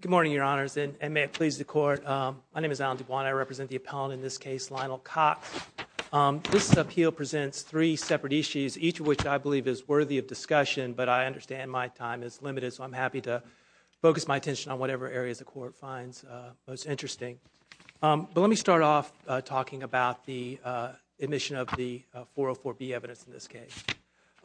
Good morning, Your Honors, and may it please the Court, my name is Alan DuBois and I represent the appellant in this case, Lionel Cox. This appeal presents three separate issues, each of which I believe is worthy of discussion, but I understand my time is limited, so I'm happy to focus my attention on whatever areas the Court finds most interesting. But let me start off talking about the admission of the 404B evidence in this case.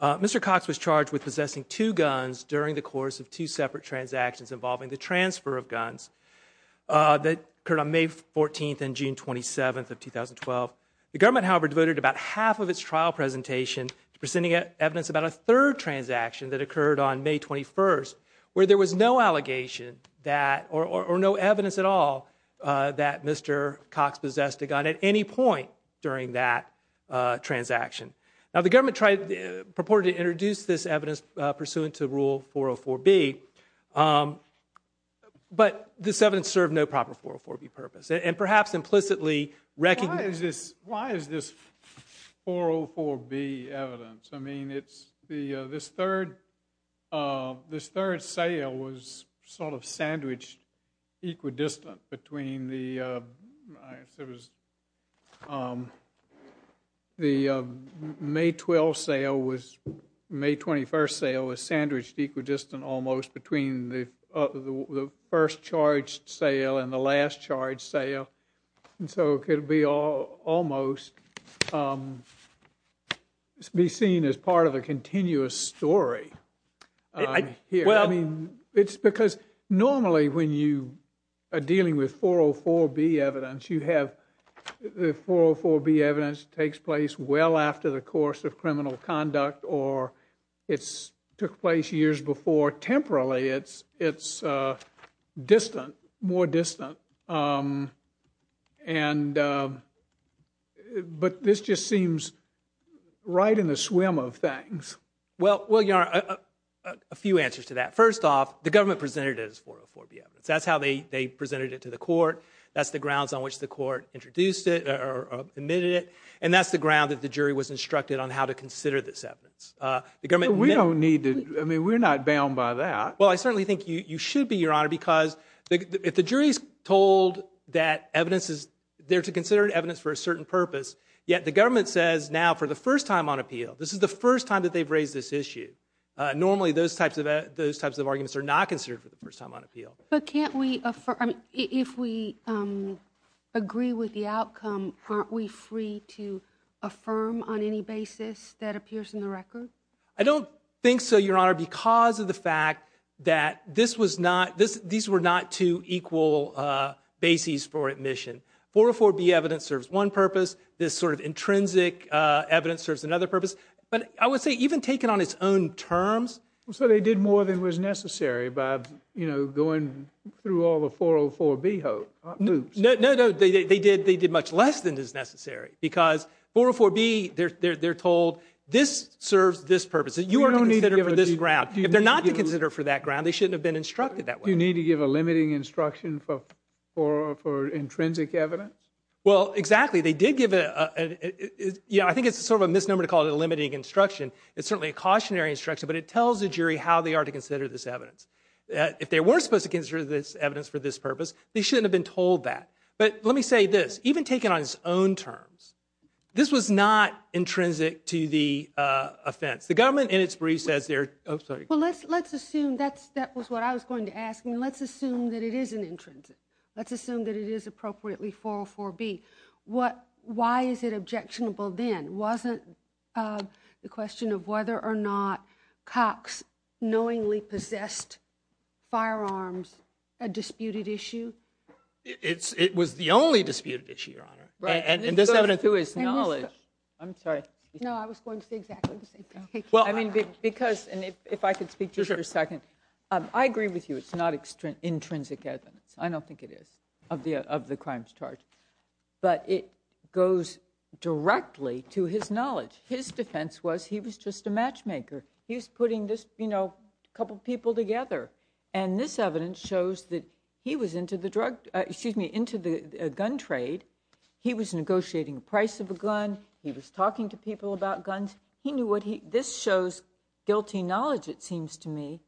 Mr. Cox was charged with possessing two guns during the course of two separate transactions involving the transfer of guns that occurred on May 14th and June 27th of 2012. The government, however, devoted about half of its trial presentation to presenting evidence about a third transaction that occurred on May 21st, where there was no allegation or no evidence at all that Mr. Cox possessed a gun at any point during that transaction. Now the government tried, purported to introduce this evidence pursuant to Rule 404B, but this evidence served no proper 404B purpose and perhaps implicitly recognized... Why is this 404B evidence? I mean, it's the, this third, this third sale was sort of sandwiched equidistant between the, I guess it was, the May 12 sale was, May 21st sale was sandwiched equidistant almost between the first charged sale. And so it could be almost be seen as part of a continuous story. Well, I mean, it's because normally when you are dealing with 404B evidence, you have the 404B evidence takes place well after the course of criminal conduct or it's took place years before. Temporarily, it's, it's distant, more distant. And, but this just seems right in the swim of things. Well, well, Your Honor, a few answers to that. First off, the government presented it as 404B evidence. That's how they, they presented it to the court. That's the grounds on which the court introduced it or admitted it. And that's the ground that the jury was instructed on how to consider this evidence. We don't need to, I mean, we're not bound by that. Well, I certainly think you should be, Your Honor, because if the jury's told that evidence is there to consider evidence for a certain purpose, yet the government says now for the first time on appeal, this is the first time that they've raised this issue. Normally, those types of, those types of arguments are not considered for the first time on appeal. But can't we, if we agree with the outcome, aren't we free to affirm on any basis that I don't think so, Your Honor, because of the fact that this was not, this, these were not two equal bases for admission. 404B evidence serves one purpose. This sort of intrinsic evidence serves another purpose. But I would say even taken on its own terms. So they did more than was necessary by, you know, going through all the 404B hoops. No, no, no. They did, they did much less than is necessary because 404B, they're, they're, they're told this serves this purpose. That you are considered for this ground. If they're not to consider for that ground, they shouldn't have been instructed that way. Do you need to give a limiting instruction for, for, for intrinsic evidence? Well, exactly. They did give a, yeah, I think it's sort of a misnomer to call it a limiting instruction. It's certainly a cautionary instruction, but it tells the jury how they are to consider this evidence. If they weren't supposed to consider this evidence for this purpose, they shouldn't have been told that. But let me say this, even taken on its own terms, this was not intrinsic to the offense. The government in its brief says they're, oh, sorry. Well, let's, let's assume that's, that was what I was going to ask. I mean, let's assume that it is an intrinsic. Let's assume that it is appropriately 404B. What, why is it objectionable then? Wasn't the question of whether or not Cox knowingly possessed firearms a disputed issue? It's, it was the only disputed issue, Your Honor. Right. And this evidence is knowledge. I'm sorry. No, I was going to say exactly the same thing. Well, I mean, because, and if, if I could speak to this for a second. I agree with you, it's not extrinsic evidence. I don't think it is of the, of the crimes charge. But it goes directly to his knowledge. His defense was he was just a matchmaker. He's putting this, you know, couple people together. And this evidence shows that he was into the drug, excuse me, into the gun trade. He was negotiating the price of a gun. He was talking to people about guns. He knew what he, this shows guilty knowledge, it seems to me.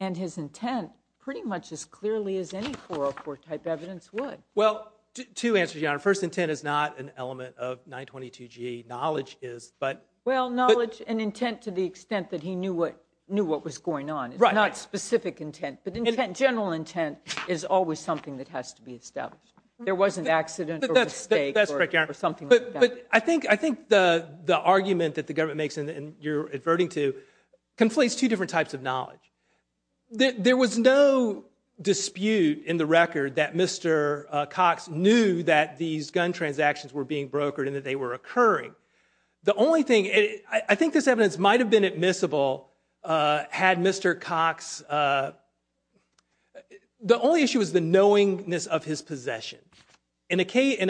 And his intent pretty much as clearly as any 404 type evidence would. Well, two answers, Your Honor. First, intent is not an element of 922G. Knowledge is, but. Well, knowledge and intent to the extent that he knew what, knew what was going on. Right. Not specific intent, but intent, general intent is always something that has to be established. There wasn't accident or mistake. That's correct, Your Honor. Or something like that. But I think, I think the, the argument that the government makes, and you're adverting to, conflates two different types of knowledge. There was no dispute in the record that Mr. Cox knew that these gun transactions were being brokered and that they were occurring. The only thing, I think this evidence might have been admissible had Mr. Cox, the only issue was the knowingness of his possession. In a case,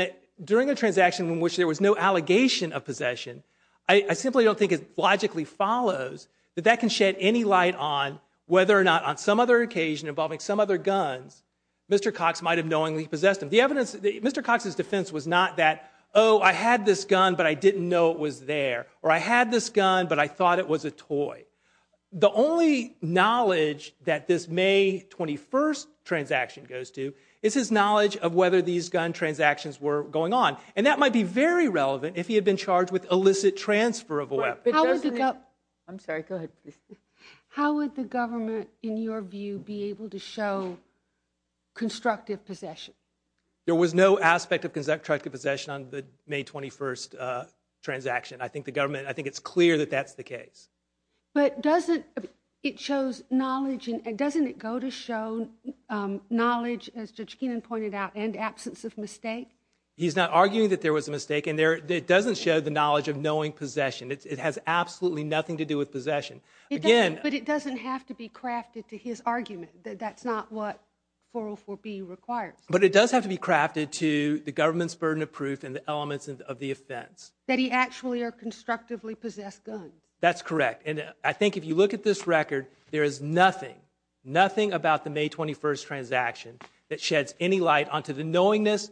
during a transaction in which there was no allegation of possession, I, I simply don't think it logically follows that that can shed any light on whether or not on some other occasion involving some other guns, Mr. Cox might have knowingly possessed them. The evidence, Mr. Cox's defense was not that, oh, I had this gun, but I didn't know it was there. Or I had this gun, but I thought it was a toy. The only knowledge that this May 21st transaction goes to is his knowledge of whether these gun transactions were going on. And that might be very relevant if he had been charged with illicit transfer of a weapon. I'm sorry, go ahead. How would the government, in your view, be able to show constructive possession? There was no aspect of constructive possession on the May 21st transaction. I think the government, I think it's clear that that's the case. But doesn't, it shows knowledge, and doesn't it go to show knowledge, as Judge Keenan pointed out, and absence of mistake? He's not arguing that there was a mistake. And it doesn't show the knowledge of knowing possession. It has absolutely nothing to do with possession. But it doesn't have to be crafted to his argument. That's not what 404B requires. But it does have to be crafted to the government's burden of proof and the elements of the offense. That he actually or constructively possessed guns. That's correct. And I think if you look at this record, there is nothing, nothing about the May 21st transaction that sheds any light onto the knowingness,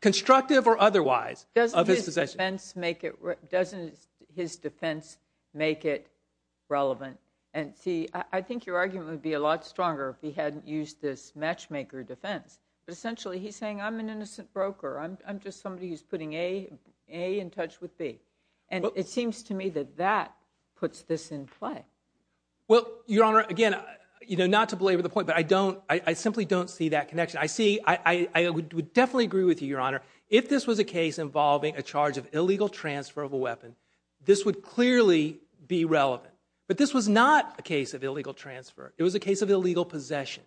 constructive or otherwise, of his possession. Doesn't his defense make it relevant? And see, I think your argument would be a lot stronger if he hadn't used this matchmaker defense. But essentially, he's saying, I'm an innocent broker. I'm just somebody who's putting A in touch with B. And it seems to me that that puts this in play. Well, Your Honor, again, not to belabor the point. I simply don't see that connection. I would definitely agree with you, Your Honor. If this was a case involving a charge of illegal transfer of a weapon, this would clearly be relevant. But this was not a case of illegal transfer. It was a case of illegal possession.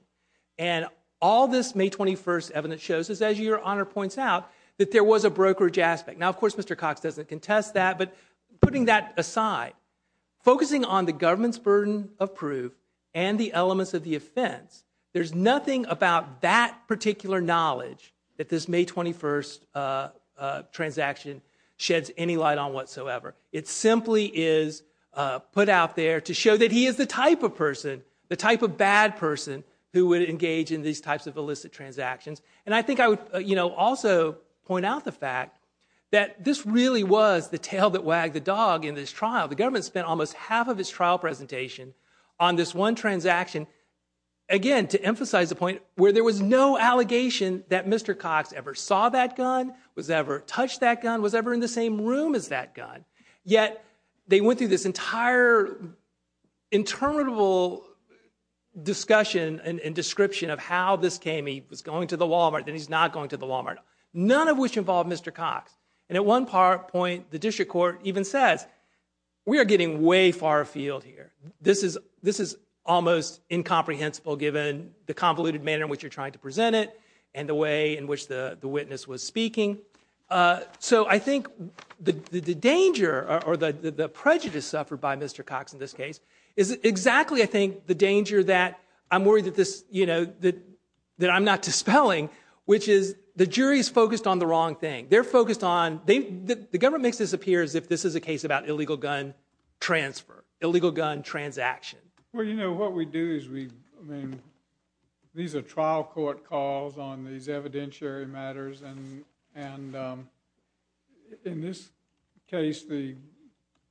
And all this May 21st evidence shows is, as Your Honor points out, that there was a brokerage aspect. Now, of course, Mr. Cox doesn't contest that. But putting that aside, focusing on the government's burden of proof and the elements of the offense, there's nothing about that particular knowledge that this May 21st transaction sheds any light on whatsoever. It simply is put out there to show that he is the type of person, the type of bad person, who would engage in these types of illicit transactions. And I think I would also point out the fact that this really was the tail that wagged the dog in this trial. The government spent almost half of its trial presentation on this one transaction, again, to emphasize the point where there was no allegation that Mr. Cox ever saw that gun, was ever touched that gun, was ever in the same room as that gun. Yet they went through this entire interminable discussion and description of how this came. He was going to the Walmart. Then he's not going to the Walmart, none of which involved Mr. Cox. And at one point, the district court even says, we are getting way far afield here. This is almost incomprehensible given the convoluted manner in which you're trying to present it and the way in which the witness was speaking. So I think the danger or the prejudice suffered by Mr. Cox in this case is exactly, I think, the danger that I'm worried that I'm not dispelling, which is the jury is focused on the wrong thing. They're focused on, the government makes this appear as if this is a case about illegal gun transfer, illegal gun transaction. Well, you know, what we do is we, I mean, these are trial court calls on these evidentiary matters. And in this case,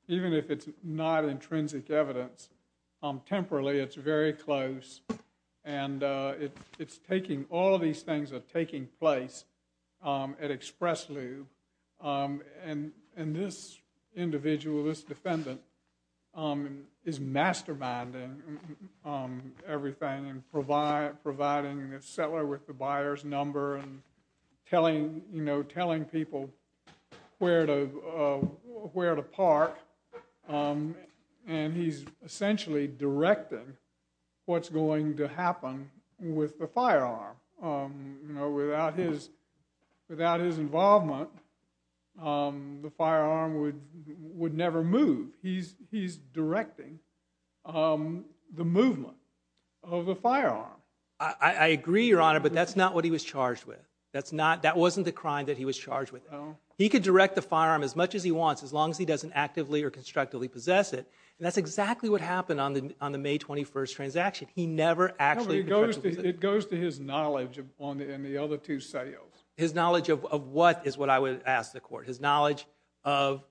even if it's not intrinsic evidence, temporarily, it's very close. And it's taking, all of these things are taking place at Express Loo. And this individual, this defendant, is masterminding everything and providing the seller with the buyer's number and telling, you know, telling people where to park. Um, and he's essentially directing what's going to happen with the firearm. Um, you know, without his, without his involvement, um, the firearm would, would never move. He's, he's directing, um, the movement of the firearm. I, I agree, Your Honor, but that's not what he was charged with. That's not, that wasn't the crime that he was charged with. He could direct the firearm as much as he wants, as long as he doesn't actively or constructively possess it. And that's exactly what happened on the, on the May 21st transaction. He never actually, it goes to his knowledge on the, in the other two sales. His knowledge of, of what is what I would ask the court. His knowledge of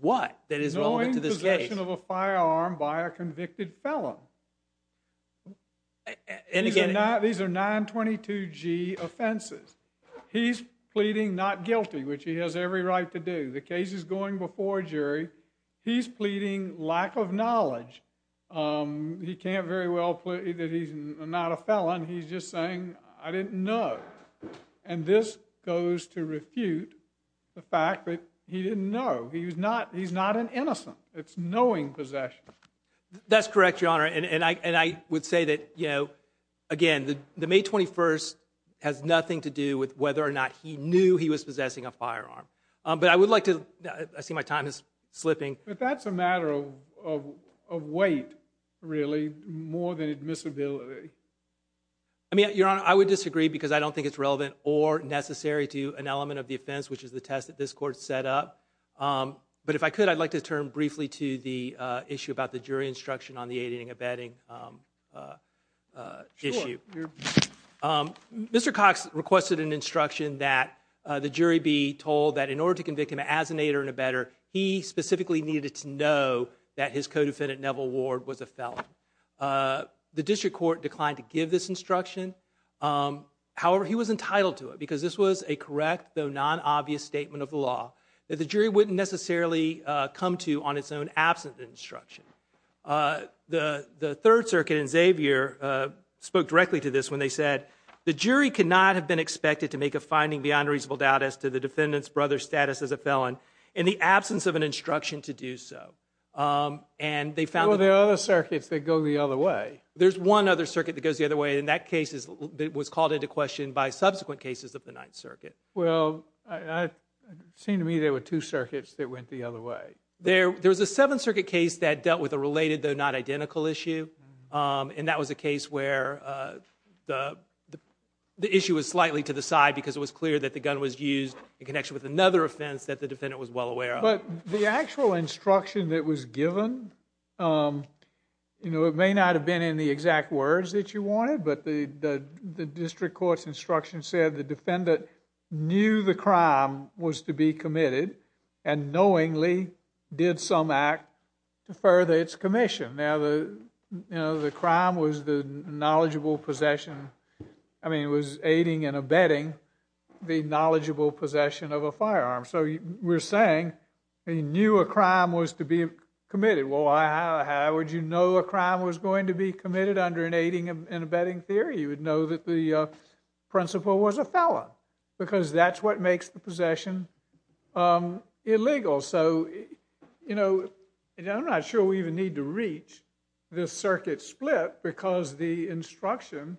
what, that is relevant to this case. Of a firearm by a convicted felon. And again, these are 922G offenses. He's pleading not guilty, which he has every right to do. The case is going before a jury. He's pleading lack of knowledge. Um, he can't very well plead that he's not a felon. He's just saying, I didn't know. And this goes to refute the fact that he didn't know. He was not, he's not an innocent. It's knowing possession. That's correct, Your Honor. And I would say that, you know, again, the May 21st has nothing to do with whether or not he knew he was possessing a firearm. But I would like to, I see my time is slipping. But that's a matter of weight, really, more than admissibility. I mean, Your Honor, I would disagree because I don't think it's relevant or necessary to an element of the offense, which is the test that this court set up. But if I could, I'd like to turn briefly to the issue about the jury instruction on the aiding and abetting issue. Mr. Cox requested an instruction that the jury be told that in order to convict him as an aider and abetter, he specifically needed to know that his co-defendant, Neville Ward, was a felon. The district court declined to give this instruction. However, he was entitled to it because this was a correct though non-obvious statement of the law that the jury wouldn't necessarily come to on its own absent instruction. The Third Circuit in Xavier spoke directly to this when they said, the jury could not have been expected to make a finding beyond a reasonable doubt as to the defendant's brother's status as a felon in the absence of an instruction to do so. And they found... Well, there are other circuits that go the other way. There's one other circuit that goes the other way. In that case, it was called into question by subsequent cases of the Ninth Circuit. Well, it seemed to me there were two circuits that went the other way. There was a Seventh Circuit case that dealt with a related though not identical issue. And that was a case where the issue was slightly to the side because it was clear that the gun was used in connection with another offense that the defendant was well aware of. But the actual instruction that was given, you know, it may not have been in the exact words that you wanted, but the district court's instruction said the defendant knew the crime was to be committed and knowingly did some act to further its commission. Now, the crime was the knowledgeable possession. I mean, it was aiding and abetting the knowledgeable possession of a firearm. So we're saying he knew a crime was to be committed. Well, how would you know a crime was going to be committed under an aiding and abetting theory? You would know that the principal was a felon because that's what makes the possession illegal. So, you know, I'm not sure we even need to reach this circuit split because the instruction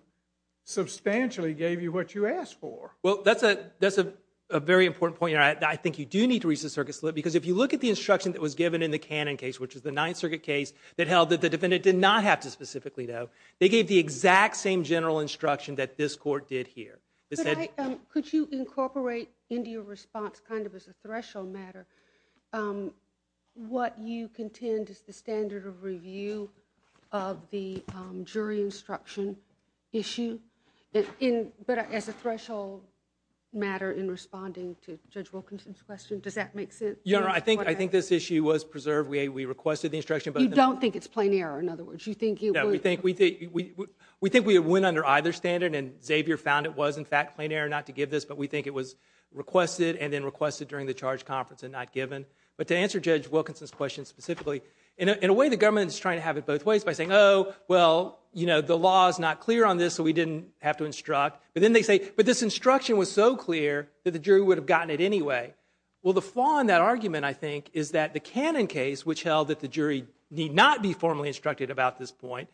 substantially gave you what you asked for. Well, that's a very important point. I think you do need to reach the circuit split because if you look at the instruction that was given in the Cannon case, which is the Ninth Circuit case that held that the defendant did not have to specifically know, they gave the exact same general instruction that this court did here. Could you incorporate into your response, kind of as a threshold matter, what you contend is the standard of review of the jury instruction issue, but as a threshold matter in responding to Judge Wilkinson's question? Does that make sense? I think this issue was preserved. We requested the instruction. You don't think it's plain error, in other words? No, we think we went under either standard and Xavier found it was, in fact, plain error not to give this, but we think it was requested and then requested during the charge conference and not given. But to answer Judge Wilkinson's question specifically, in a way, the government is trying to have it both ways by saying, oh, well, you know, the law is not clear on this, so we didn't have to instruct. But then they say, but this instruction was so clear that the jury would have gotten it anyway. Well, the flaw in that argument, I think, is that the Cannon case, which held that the jury need not be formally instructed about this point,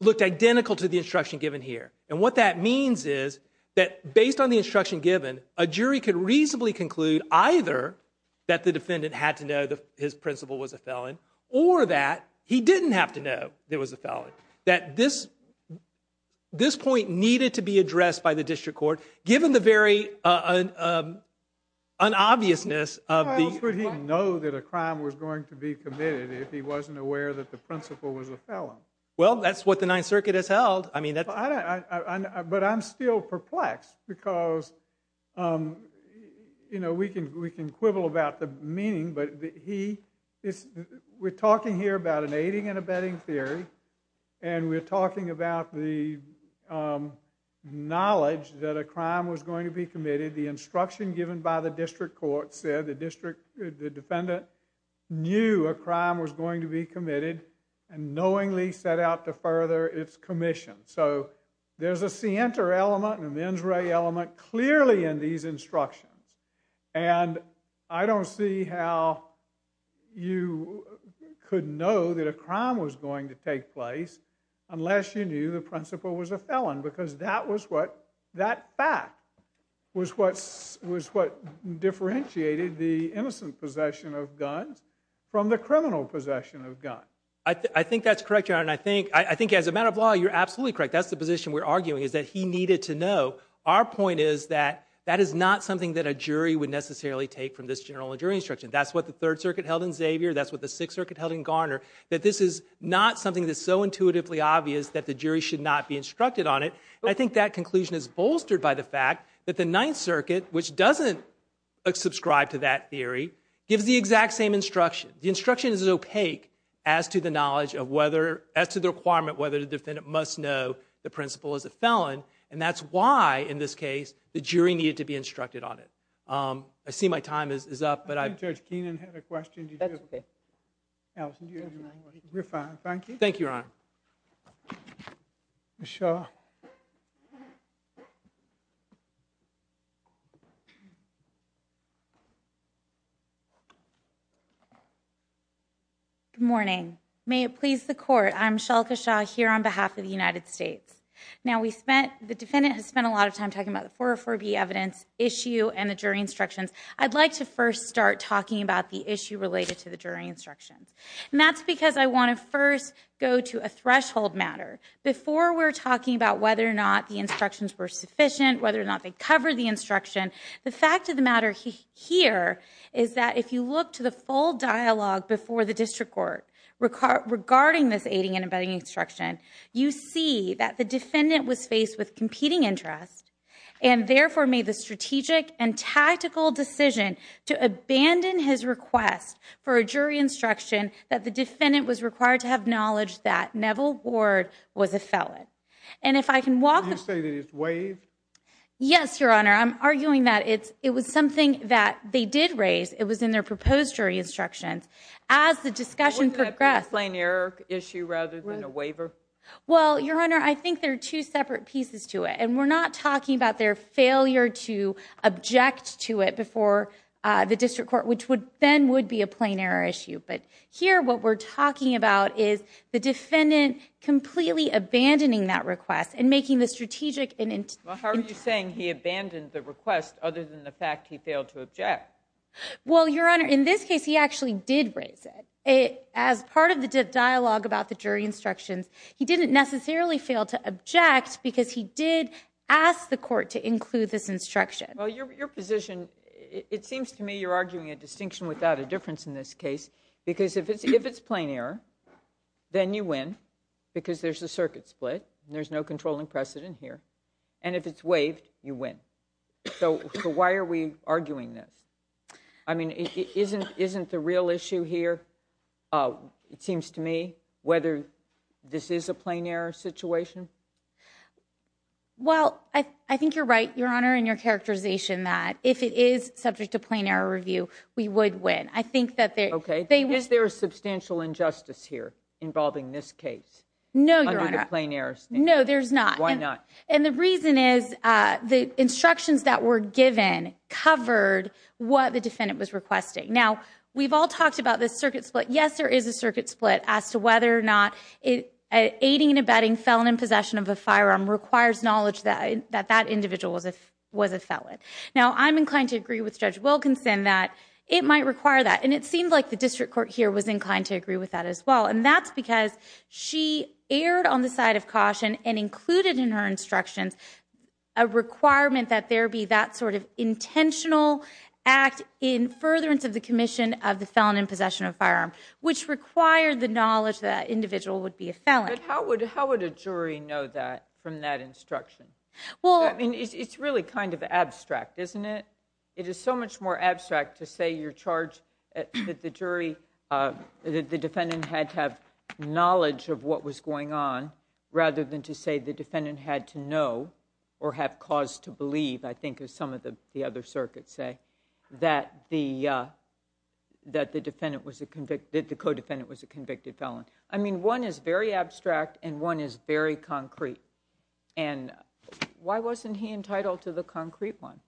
looked identical to the instruction given here. And what that means is that, based on the instruction given, a jury could reasonably conclude either that the defendant had to know that his principal was a felon or that he didn't have to know there was a felon, that this point needed to be addressed by the district court, given the very unobviousness of the- How else would he know that a crime was going to be committed if he wasn't aware that the principal was a felon? Well, that's what the Ninth Circuit has held. I mean, that's- But I'm still perplexed because, you know, we can quibble about the meaning, but we're an aiding and abetting theory, and we're talking about the knowledge that a crime was going to be committed. The instruction given by the district court said the defendant knew a crime was going to be committed and knowingly set out to further its commission. So there's a scienter element and a mens re element clearly in these instructions. And I don't see how you could know that a crime was going to take place unless you knew the principal was a felon, because that was what- that fact was what differentiated the innocent possession of guns from the criminal possession of guns. I think that's correct, Your Honor, and I think as a matter of law, you're absolutely correct. That's the position we're arguing, is that he needed to know. Our point is that that is not something that a jury would necessarily take from this general jury instruction. That's what the Third Circuit held in Xavier. That's what the Sixth Circuit held in Garner, that this is not something that's so intuitively obvious that the jury should not be instructed on it. I think that conclusion is bolstered by the fact that the Ninth Circuit, which doesn't subscribe to that theory, gives the exact same instruction. The instruction is opaque as to the knowledge of whether- as to the requirement whether the defendant must know the principal is a felon. And that's why, in this case, the jury needed to be instructed on it. I see my time is up, but I- Judge Keenan had a question. That's okay. Allison, do you have a question? You're fine. Thank you. Thank you, Your Honor. Ms. Shah. Good morning. May it please the Court, I'm Michelle Shah here on behalf of the United States. Now we spent- the defendant has spent a lot of time talking about the 404B evidence issue and the jury instructions. I'd like to first start talking about the issue related to the jury instructions. And that's because I want to first go to a threshold matter. Before we're talking about whether or not the instructions were sufficient, whether or not they covered the instruction, the fact of the matter here is that if you look to the full dialogue before the District Court regarding this aiding and abetting instruction, you see that the defendant was faced with competing interest and therefore made the strategic and tactical decision to abandon his request for a jury instruction that the defendant was required to have knowledge that Neville Ward was a felon. And if I can walk- Did you say that it's waived? Yes, Your Honor. I'm arguing that it's- it was something that they did raise. It was in their proposed jury instructions. As the discussion progressed- Well, Your Honor, I think there are two separate pieces to it. And we're not talking about their failure to object to it before the District Court, which would then would be a plain error issue. But here what we're talking about is the defendant completely abandoning that request and making the strategic and- Well, how are you saying he abandoned the request other than the fact he failed to object? Well, Your Honor, in this case, he actually did raise it. As part of the dialogue about the jury instructions, he didn't necessarily fail to object because he did ask the court to include this instruction. Well, your position- it seems to me you're arguing a distinction without a difference in this case because if it's plain error, then you win because there's a circuit split. There's no controlling precedent here. And if it's waived, you win. So why are we arguing this? I mean, isn't the real issue here, it seems to me, whether this is a plain error situation? Well, I think you're right, Your Honor, in your characterization that if it is subject to plain error review, we would win. I think that they- Okay. Is there a substantial injustice here involving this case? No, Your Honor. Under the plain errors? No, there's not. Why not? And the reason is the instructions that were given covered what the defendant was requesting. Now, we've all talked about this circuit split. Yes, there is a circuit split as to whether or not aiding and abetting felon in possession of a firearm requires knowledge that that individual was a felon. Now, I'm inclined to agree with Judge Wilkinson that it might require that. And it seemed like the district court here was inclined to agree with that as well. And that's because she erred on the side of caution and included in her instructions a requirement that there be that sort of intentional act in furtherance of the commission of the felon in possession of a firearm, which required the knowledge that that individual would be a felon. But how would a jury know that from that instruction? Well- I mean, it's really kind of abstract, isn't it? It is so much more abstract to say you're charged that the defendant had to have knowledge of what was going on rather than to say the defendant had to know or have cause to believe, I think, as some of the other circuits say, that the co-defendant was a convicted felon. I mean, one is very abstract and one is very concrete. And why wasn't he entitled to the concrete one?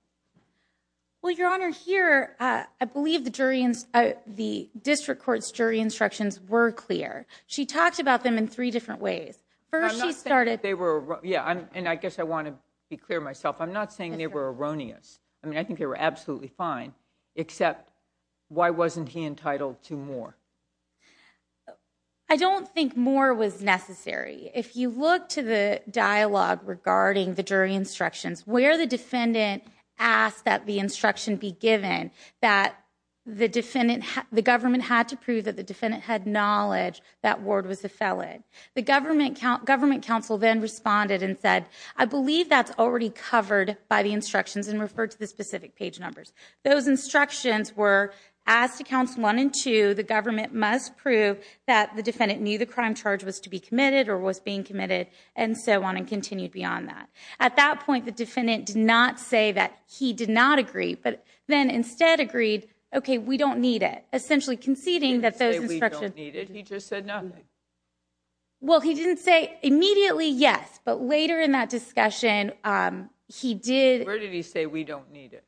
Well, Your Honor, here, I believe the district court's jury instructions were clear. She talked about them in three different ways. First, she started- They were- Yeah, and I guess I want to be clear myself. I'm not saying they were erroneous. I mean, I think they were absolutely fine, except why wasn't he entitled to more? I don't think more was necessary. If you look to the dialogue regarding the jury instructions, where the defendant asked that the instruction be given that the defendant- the government had to prove that the defendant had knowledge that Ward was a felon, the government counsel then responded and said, I believe that's already covered by the instructions and referred to the specific page numbers. Those instructions were asked to counsel one and two, the government must prove that the defendant knew the crime charge was to be committed or was being committed, and so on and continued beyond that. At that point, the defendant did not say that he did not agree, but then instead agreed, okay, we don't need it, essentially conceding that those instructions- He didn't say we don't need it. He just said nothing. Well, he didn't say immediately yes, but later in that discussion, he did- Where did he say we don't need it?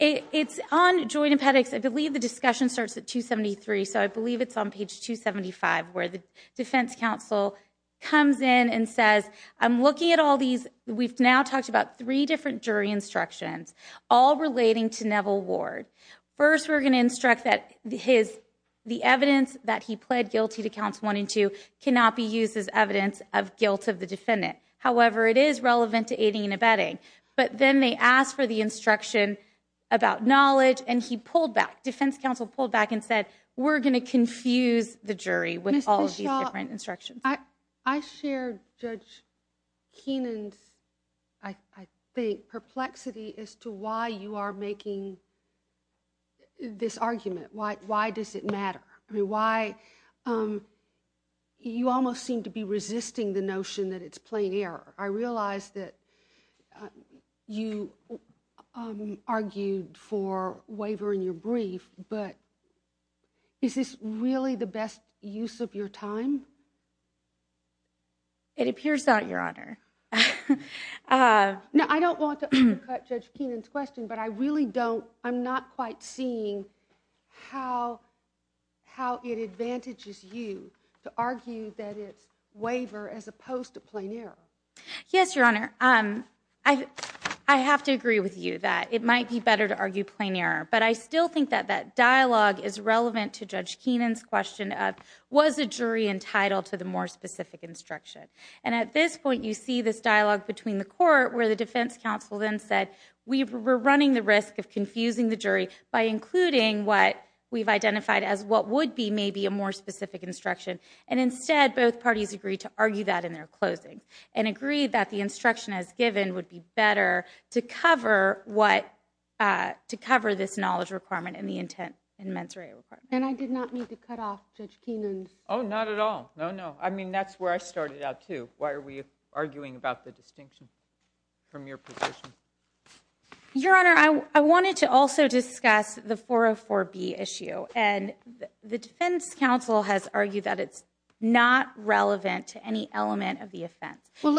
It's on joint empedics. I believe the discussion starts at 273, so I believe it's on page 275, where the defense counsel comes in and says, I'm looking at all these, we've now talked about three different jury instructions, all relating to Neville Ward. First, we're going to instruct that the evidence that he pled guilty to counts one and two cannot be used as evidence of guilt of the defendant. However, it is relevant to aiding and abetting, but then they asked for the instruction about knowledge and he pulled back, defense counsel pulled back and said, we're going to confuse the jury with all of these different instructions. I share Judge Keenan's, I think, perplexity as to why you are making this argument. Why does it matter? I mean, you almost seem to be resisting the notion that it's plain error. I realize that you argued for wavering your brief, but is this really the best use of your time? It appears not, Your Honor. Now, I don't want to undercut Judge Keenan's question, but I really don't, I'm not quite seeing how it advantages you to argue that it's waver as opposed to plain error. Yes, Your Honor. I have to agree with you that it might be better to argue plain error, but I still think that that dialogue is relevant to Judge Keenan's question of, was a jury entitled to the more specific instruction? And at this point, you see this dialogue between the court where the defense counsel then said, we were running the risk of confusing the jury by including what we've identified as what would be maybe a more specific instruction. And instead, both parties agreed to argue that in their closings and agreed that the instruction as given would be better to cover what, to cover this knowledge requirement and the intent and mens rea requirement. And I did not mean to cut off Judge Keenan's. Oh, not at all. No, no. I mean, that's where I started out too. Why are we arguing about the distinction from your position? Your Honor, I wanted to also discuss the 404B issue. And the defense counsel has argued that it's not relevant to any element of the offense. Well,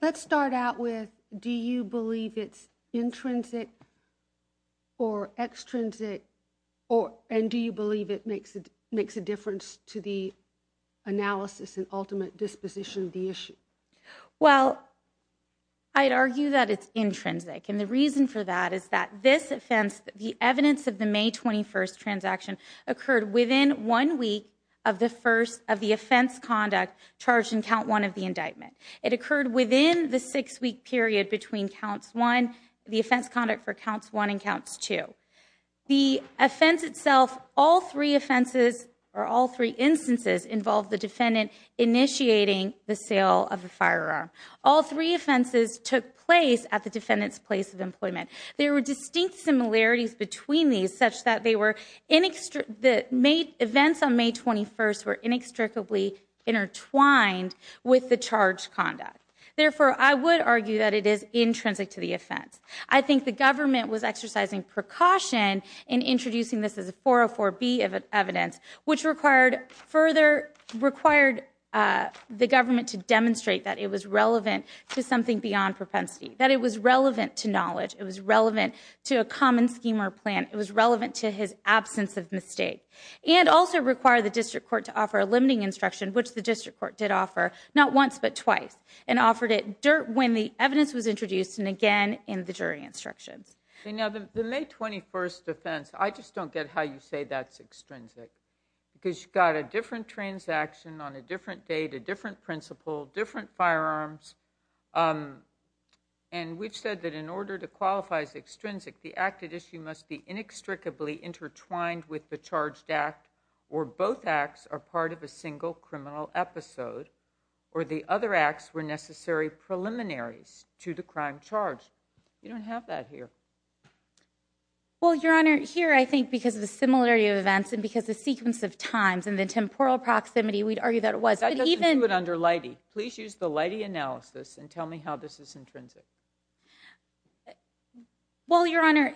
let's start out with, do you believe it's intrinsic or extrinsic, and do you believe it makes a difference to the analysis and ultimate disposition of the issue? Well, I'd argue that it's intrinsic. And the reason for that is that this offense, the evidence of the May 21st transaction occurred within one week of the offense conduct charged in count one of the indictment. It occurred within the six-week period between counts one, the offense conduct for counts one and counts two. The offense itself, all three offenses or all three instances involved the defendant initiating the sale of the firearm. All three offenses took place at the defendant's place of employment. There were distinct similarities between these such that they were events on May 21st were inextricably intertwined with the charge conduct. Therefore, I would argue that it is intrinsic to the offense. I think the government was exercising precaution in introducing this as a 404B evidence, which required the government to demonstrate that it was relevant to something beyond propensity, that it was relevant to knowledge, it was relevant to a common scheme or plan, it was relevant to his absence of mistake. And also require the district court to offer a limiting instruction, which the district court did offer not once but twice, and offered it when the evidence was introduced and again in the jury instructions. You know, the May 21st offense, I just don't get how you say that's extrinsic. Because you've got a different transaction on a different date, a different principle, different firearms. And we've said that in order to qualify as extrinsic, the acted issue must be inextricably intertwined with the charged act, or both acts are part of a single criminal episode, or the other acts were necessary preliminaries to the crime charge. You don't have that here. Well, Your Honor, here I think because of the similarity of events and because the sequence of times and the temporal proximity, we'd argue that it was. That doesn't do it under Leidy. Please use the Leidy analysis and tell me how this is intrinsic. Well, Your Honor,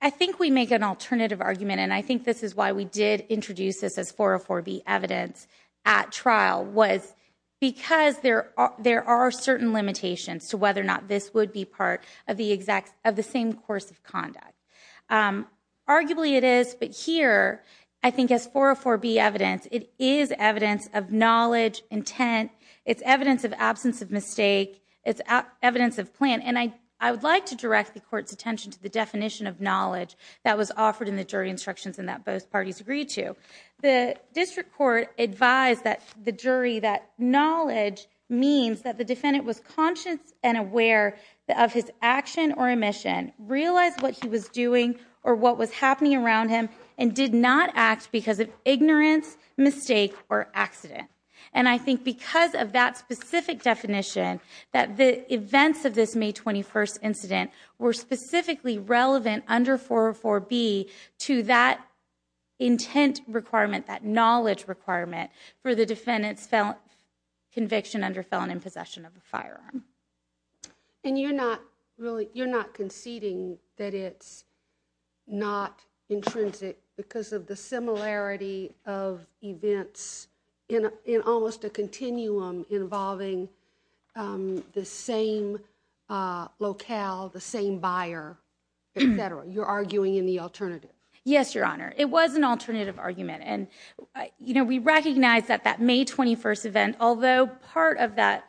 I think we make an alternative argument, and I think this is why we did introduce this as 404B evidence at trial. Because there are certain limitations to whether or not this would be part of the same course of conduct. Arguably, it is. But here, I think as 404B evidence, it is evidence of knowledge, intent. It's evidence of absence of mistake. It's evidence of plan. And I would like to direct the Court's attention to the definition of knowledge that was offered in the jury instructions and that both parties agreed to. The district court advised the jury that knowledge means that the defendant was conscious and aware of his action or omission, realized what he was doing or what was happening around him, and did not act because of ignorance, mistake, or accident. And I think because of that specific definition, that the events of this May 21st incident were specifically relevant under 404B to that intent requirement, that knowledge requirement, for the defendant's conviction under felon in possession of a firearm. And you're not conceding that it's not intrinsic because of the similarity of events in almost a continuum involving the same locale, the same buyer, etc. You're arguing in the alternative. Yes, Your Honor. It was an alternative argument. And we recognize that that May 21st event, although part of that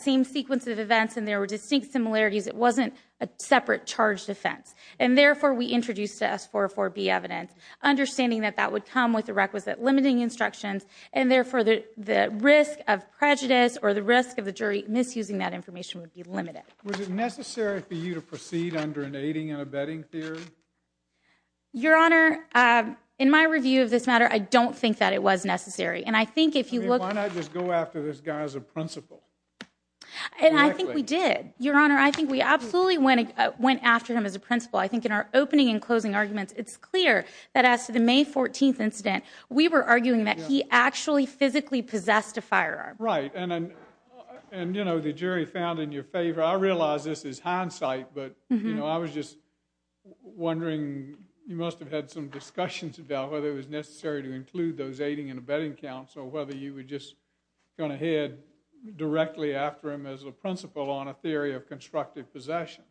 same sequence of events and there were distinct similarities, it wasn't a separate charged offense. And therefore, we introduced to us 404B evidence, understanding that that would come with the requisite limiting instructions. And therefore, the risk of prejudice or the risk of the jury misusing that information would be limited. Was it necessary for you to proceed under an aiding and abetting theory? Your Honor, in my review of this matter, I don't think that it was necessary. And I think if you look... Why not just go after this guy as a principal? And I think we did, Your Honor. I think we absolutely went after him as a principal. I think in our opening and closing arguments, it's clear that as to the May 14th incident, we were arguing that he actually physically possessed a firearm. Right. And, you know, the jury found in your favor. I realize this is hindsight, but, you know, I was just wondering, you must have had some discussions about whether it was necessary to include those aiding and abetting counts or whether you were just going to head directly after him as a principal on a theory of constructive possession.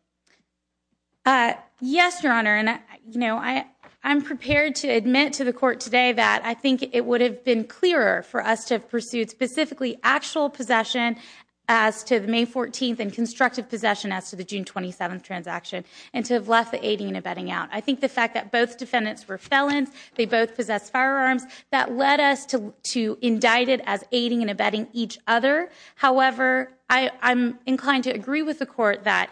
Yes, Your Honor. And, you know, I'm prepared to admit to the court today that I think it would have been clearer for us to have pursued specifically actual possession as to the May 14th and constructive possession as to the June 27th transaction and to have left the aiding and abetting out. I think the fact that both defendants were felons, they both possessed firearms, that led us to indict it as aiding and abetting each other. However, I'm inclined to agree with the court that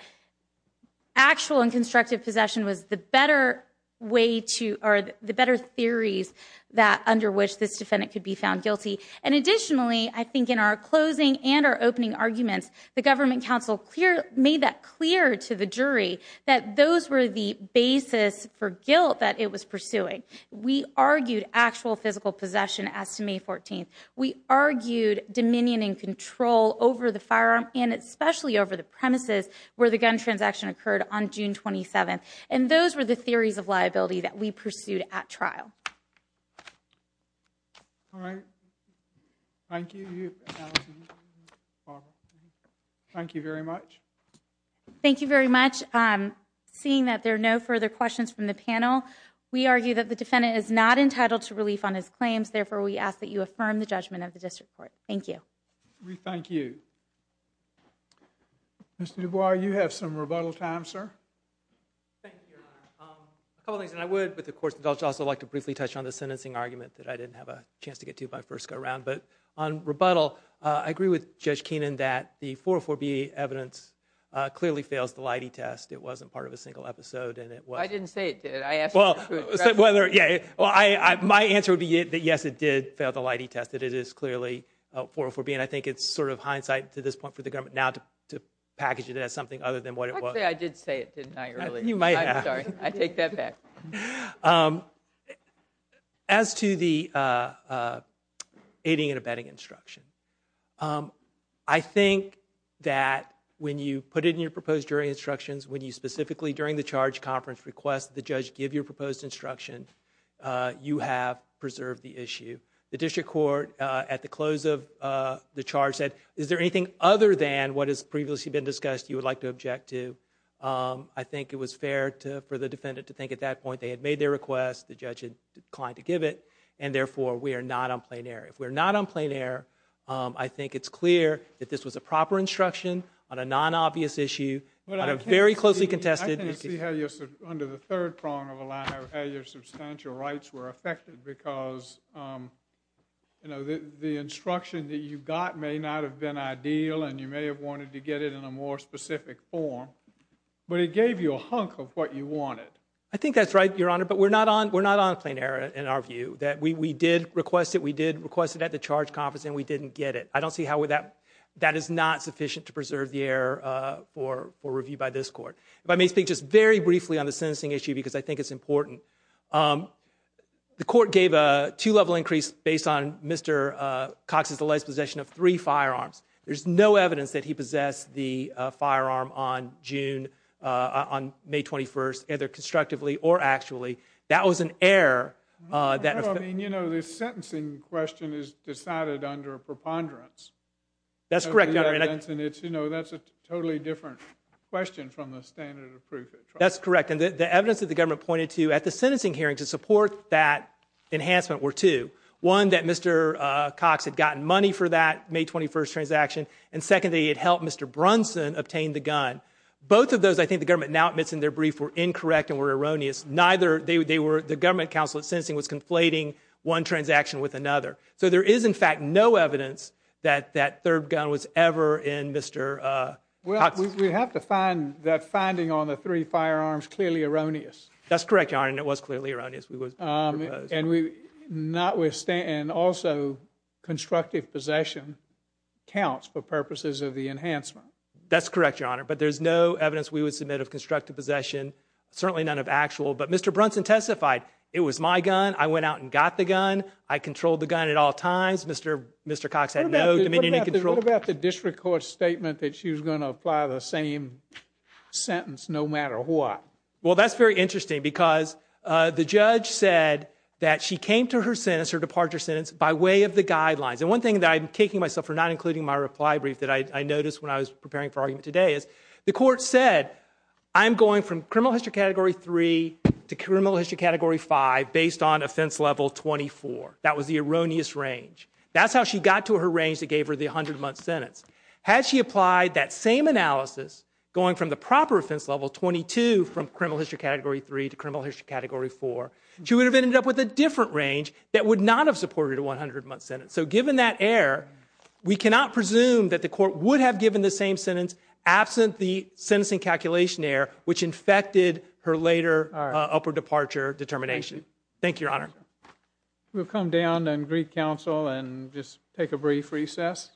actual and constructive possession was the better way to... Or the better theories that under which this defendant could be found guilty. And additionally, I think in our closing and our opening arguments, the government counsel made that clear to the jury that those were the basis for guilt that it was pursuing. We argued actual physical possession as to May 14th. We argued dominion and control over the firearm and especially over the premises where the gun transaction occurred on June 27th. And those were the theories of liability that we pursued at trial. All right. Thank you. Thank you very much. Thank you very much. Seeing that there are no further questions from the panel, we argue that the defendant is not entitled to relief on his claims. Therefore, we ask that you affirm the judgment of the district court. Thank you. We thank you. Mr. Dubois, you have some rebuttal time, sir. Thank you, Your Honor. A couple of things, and I would, with the court's indulgence, also like to briefly touch on the sentencing argument that I didn't have a chance to get to by first go-round. But on rebuttal, I agree with Judge Keenan that the 404B evidence clearly fails the Leidy test. It wasn't part of a single episode, and it was— I didn't say it did. I asked you to address it. Well, my answer would be that, yes, it did fail the Leidy test, that it is clearly 404B. And I think it's sort of hindsight to this point for the government now to package it as something other than what it was. Actually, I did say it did not really. You might have. I'm sorry. I take that back. As to the aiding and abetting instruction, I think that when you put it in your proposed jury instructions, when you specifically, during the charge conference, request that the judge give your proposed instruction, you have preserved the issue. The district court, at the close of the charge, said, is there anything other than what has previously been discussed you would like to object to? I think it was fair for the defendant to think at that point they had made their request, the judge had declined to give it, and therefore we are not on plain error. If we're not on plain error, I think it's clear that this was a proper instruction on a non-obvious issue, on a very closely contested— I can't see how you're— under the third prong of the line, of how your substantial rights were affected because the instruction that you got may not have been ideal and you may have wanted to get it in a more specific form, but it gave you a hunk of what you wanted. I think that's right, Your Honor, but we're not on plain error in our view. That we did request it, we did request it at the charge conference, and we didn't get it. I don't see how that is not sufficient to preserve the error for review by this court. If I may speak just very briefly on the sentencing issue, because I think it's important. The court gave a two-level increase based on Mr. Cox's alleged possession of three firearms. There's no evidence that he possessed the firearm on June— on May 21st, either constructively or actually. That was an error that— No, I mean, you know, the sentencing question is decided under a preponderance. That's correct, Your Honor. And it's, you know, that's a totally different question from the standard of proof. That's correct. And the evidence that the government pointed to at the sentencing hearing to support that enhancement were two. One, that Mr. Cox had gotten money for that May 21st transaction, and second, that he had helped Mr. Brunson obtain the gun. Both of those, I think, the government now admits in their brief were incorrect and were erroneous. Neither— they were— the government counsel at sentencing was conflating one transaction with another. So there is, in fact, no evidence that that third gun was ever in Mr. Cox's— We have to find that finding on the three firearms clearly erroneous. That's correct, Your Honor, and it was clearly erroneous. We would propose. And we not withstand— of the enhancement. That's correct, Your Honor, but there's no evidence we would submit of constructive possession, certainly none of actual. But Mr. Brunson testified, it was my gun, I went out and got the gun, I controlled the gun at all times. Mr. Cox had no dominion in control. What about the district court statement that she was going to apply the same sentence no matter what? Well, that's very interesting because the judge said that she came to her sentence, her departure sentence, by way of the guidelines. And one thing that I'm taking myself for, not including my reply brief that I noticed when I was preparing for argument today, is the court said, I'm going from criminal history category 3 to criminal history category 5 based on offense level 24. That was the erroneous range. That's how she got to her range that gave her the 100-month sentence. Had she applied that same analysis going from the proper offense level 22 from criminal history category 3 to criminal history category 4, she would have ended up with a different range that would not have supported a 100-month sentence. So given that error, we cannot presume that the court would have given the same sentence absent the sentencing calculation error which infected her later upper departure determination. Thank you, Your Honor. We'll come down and greet counsel and just take a brief recess.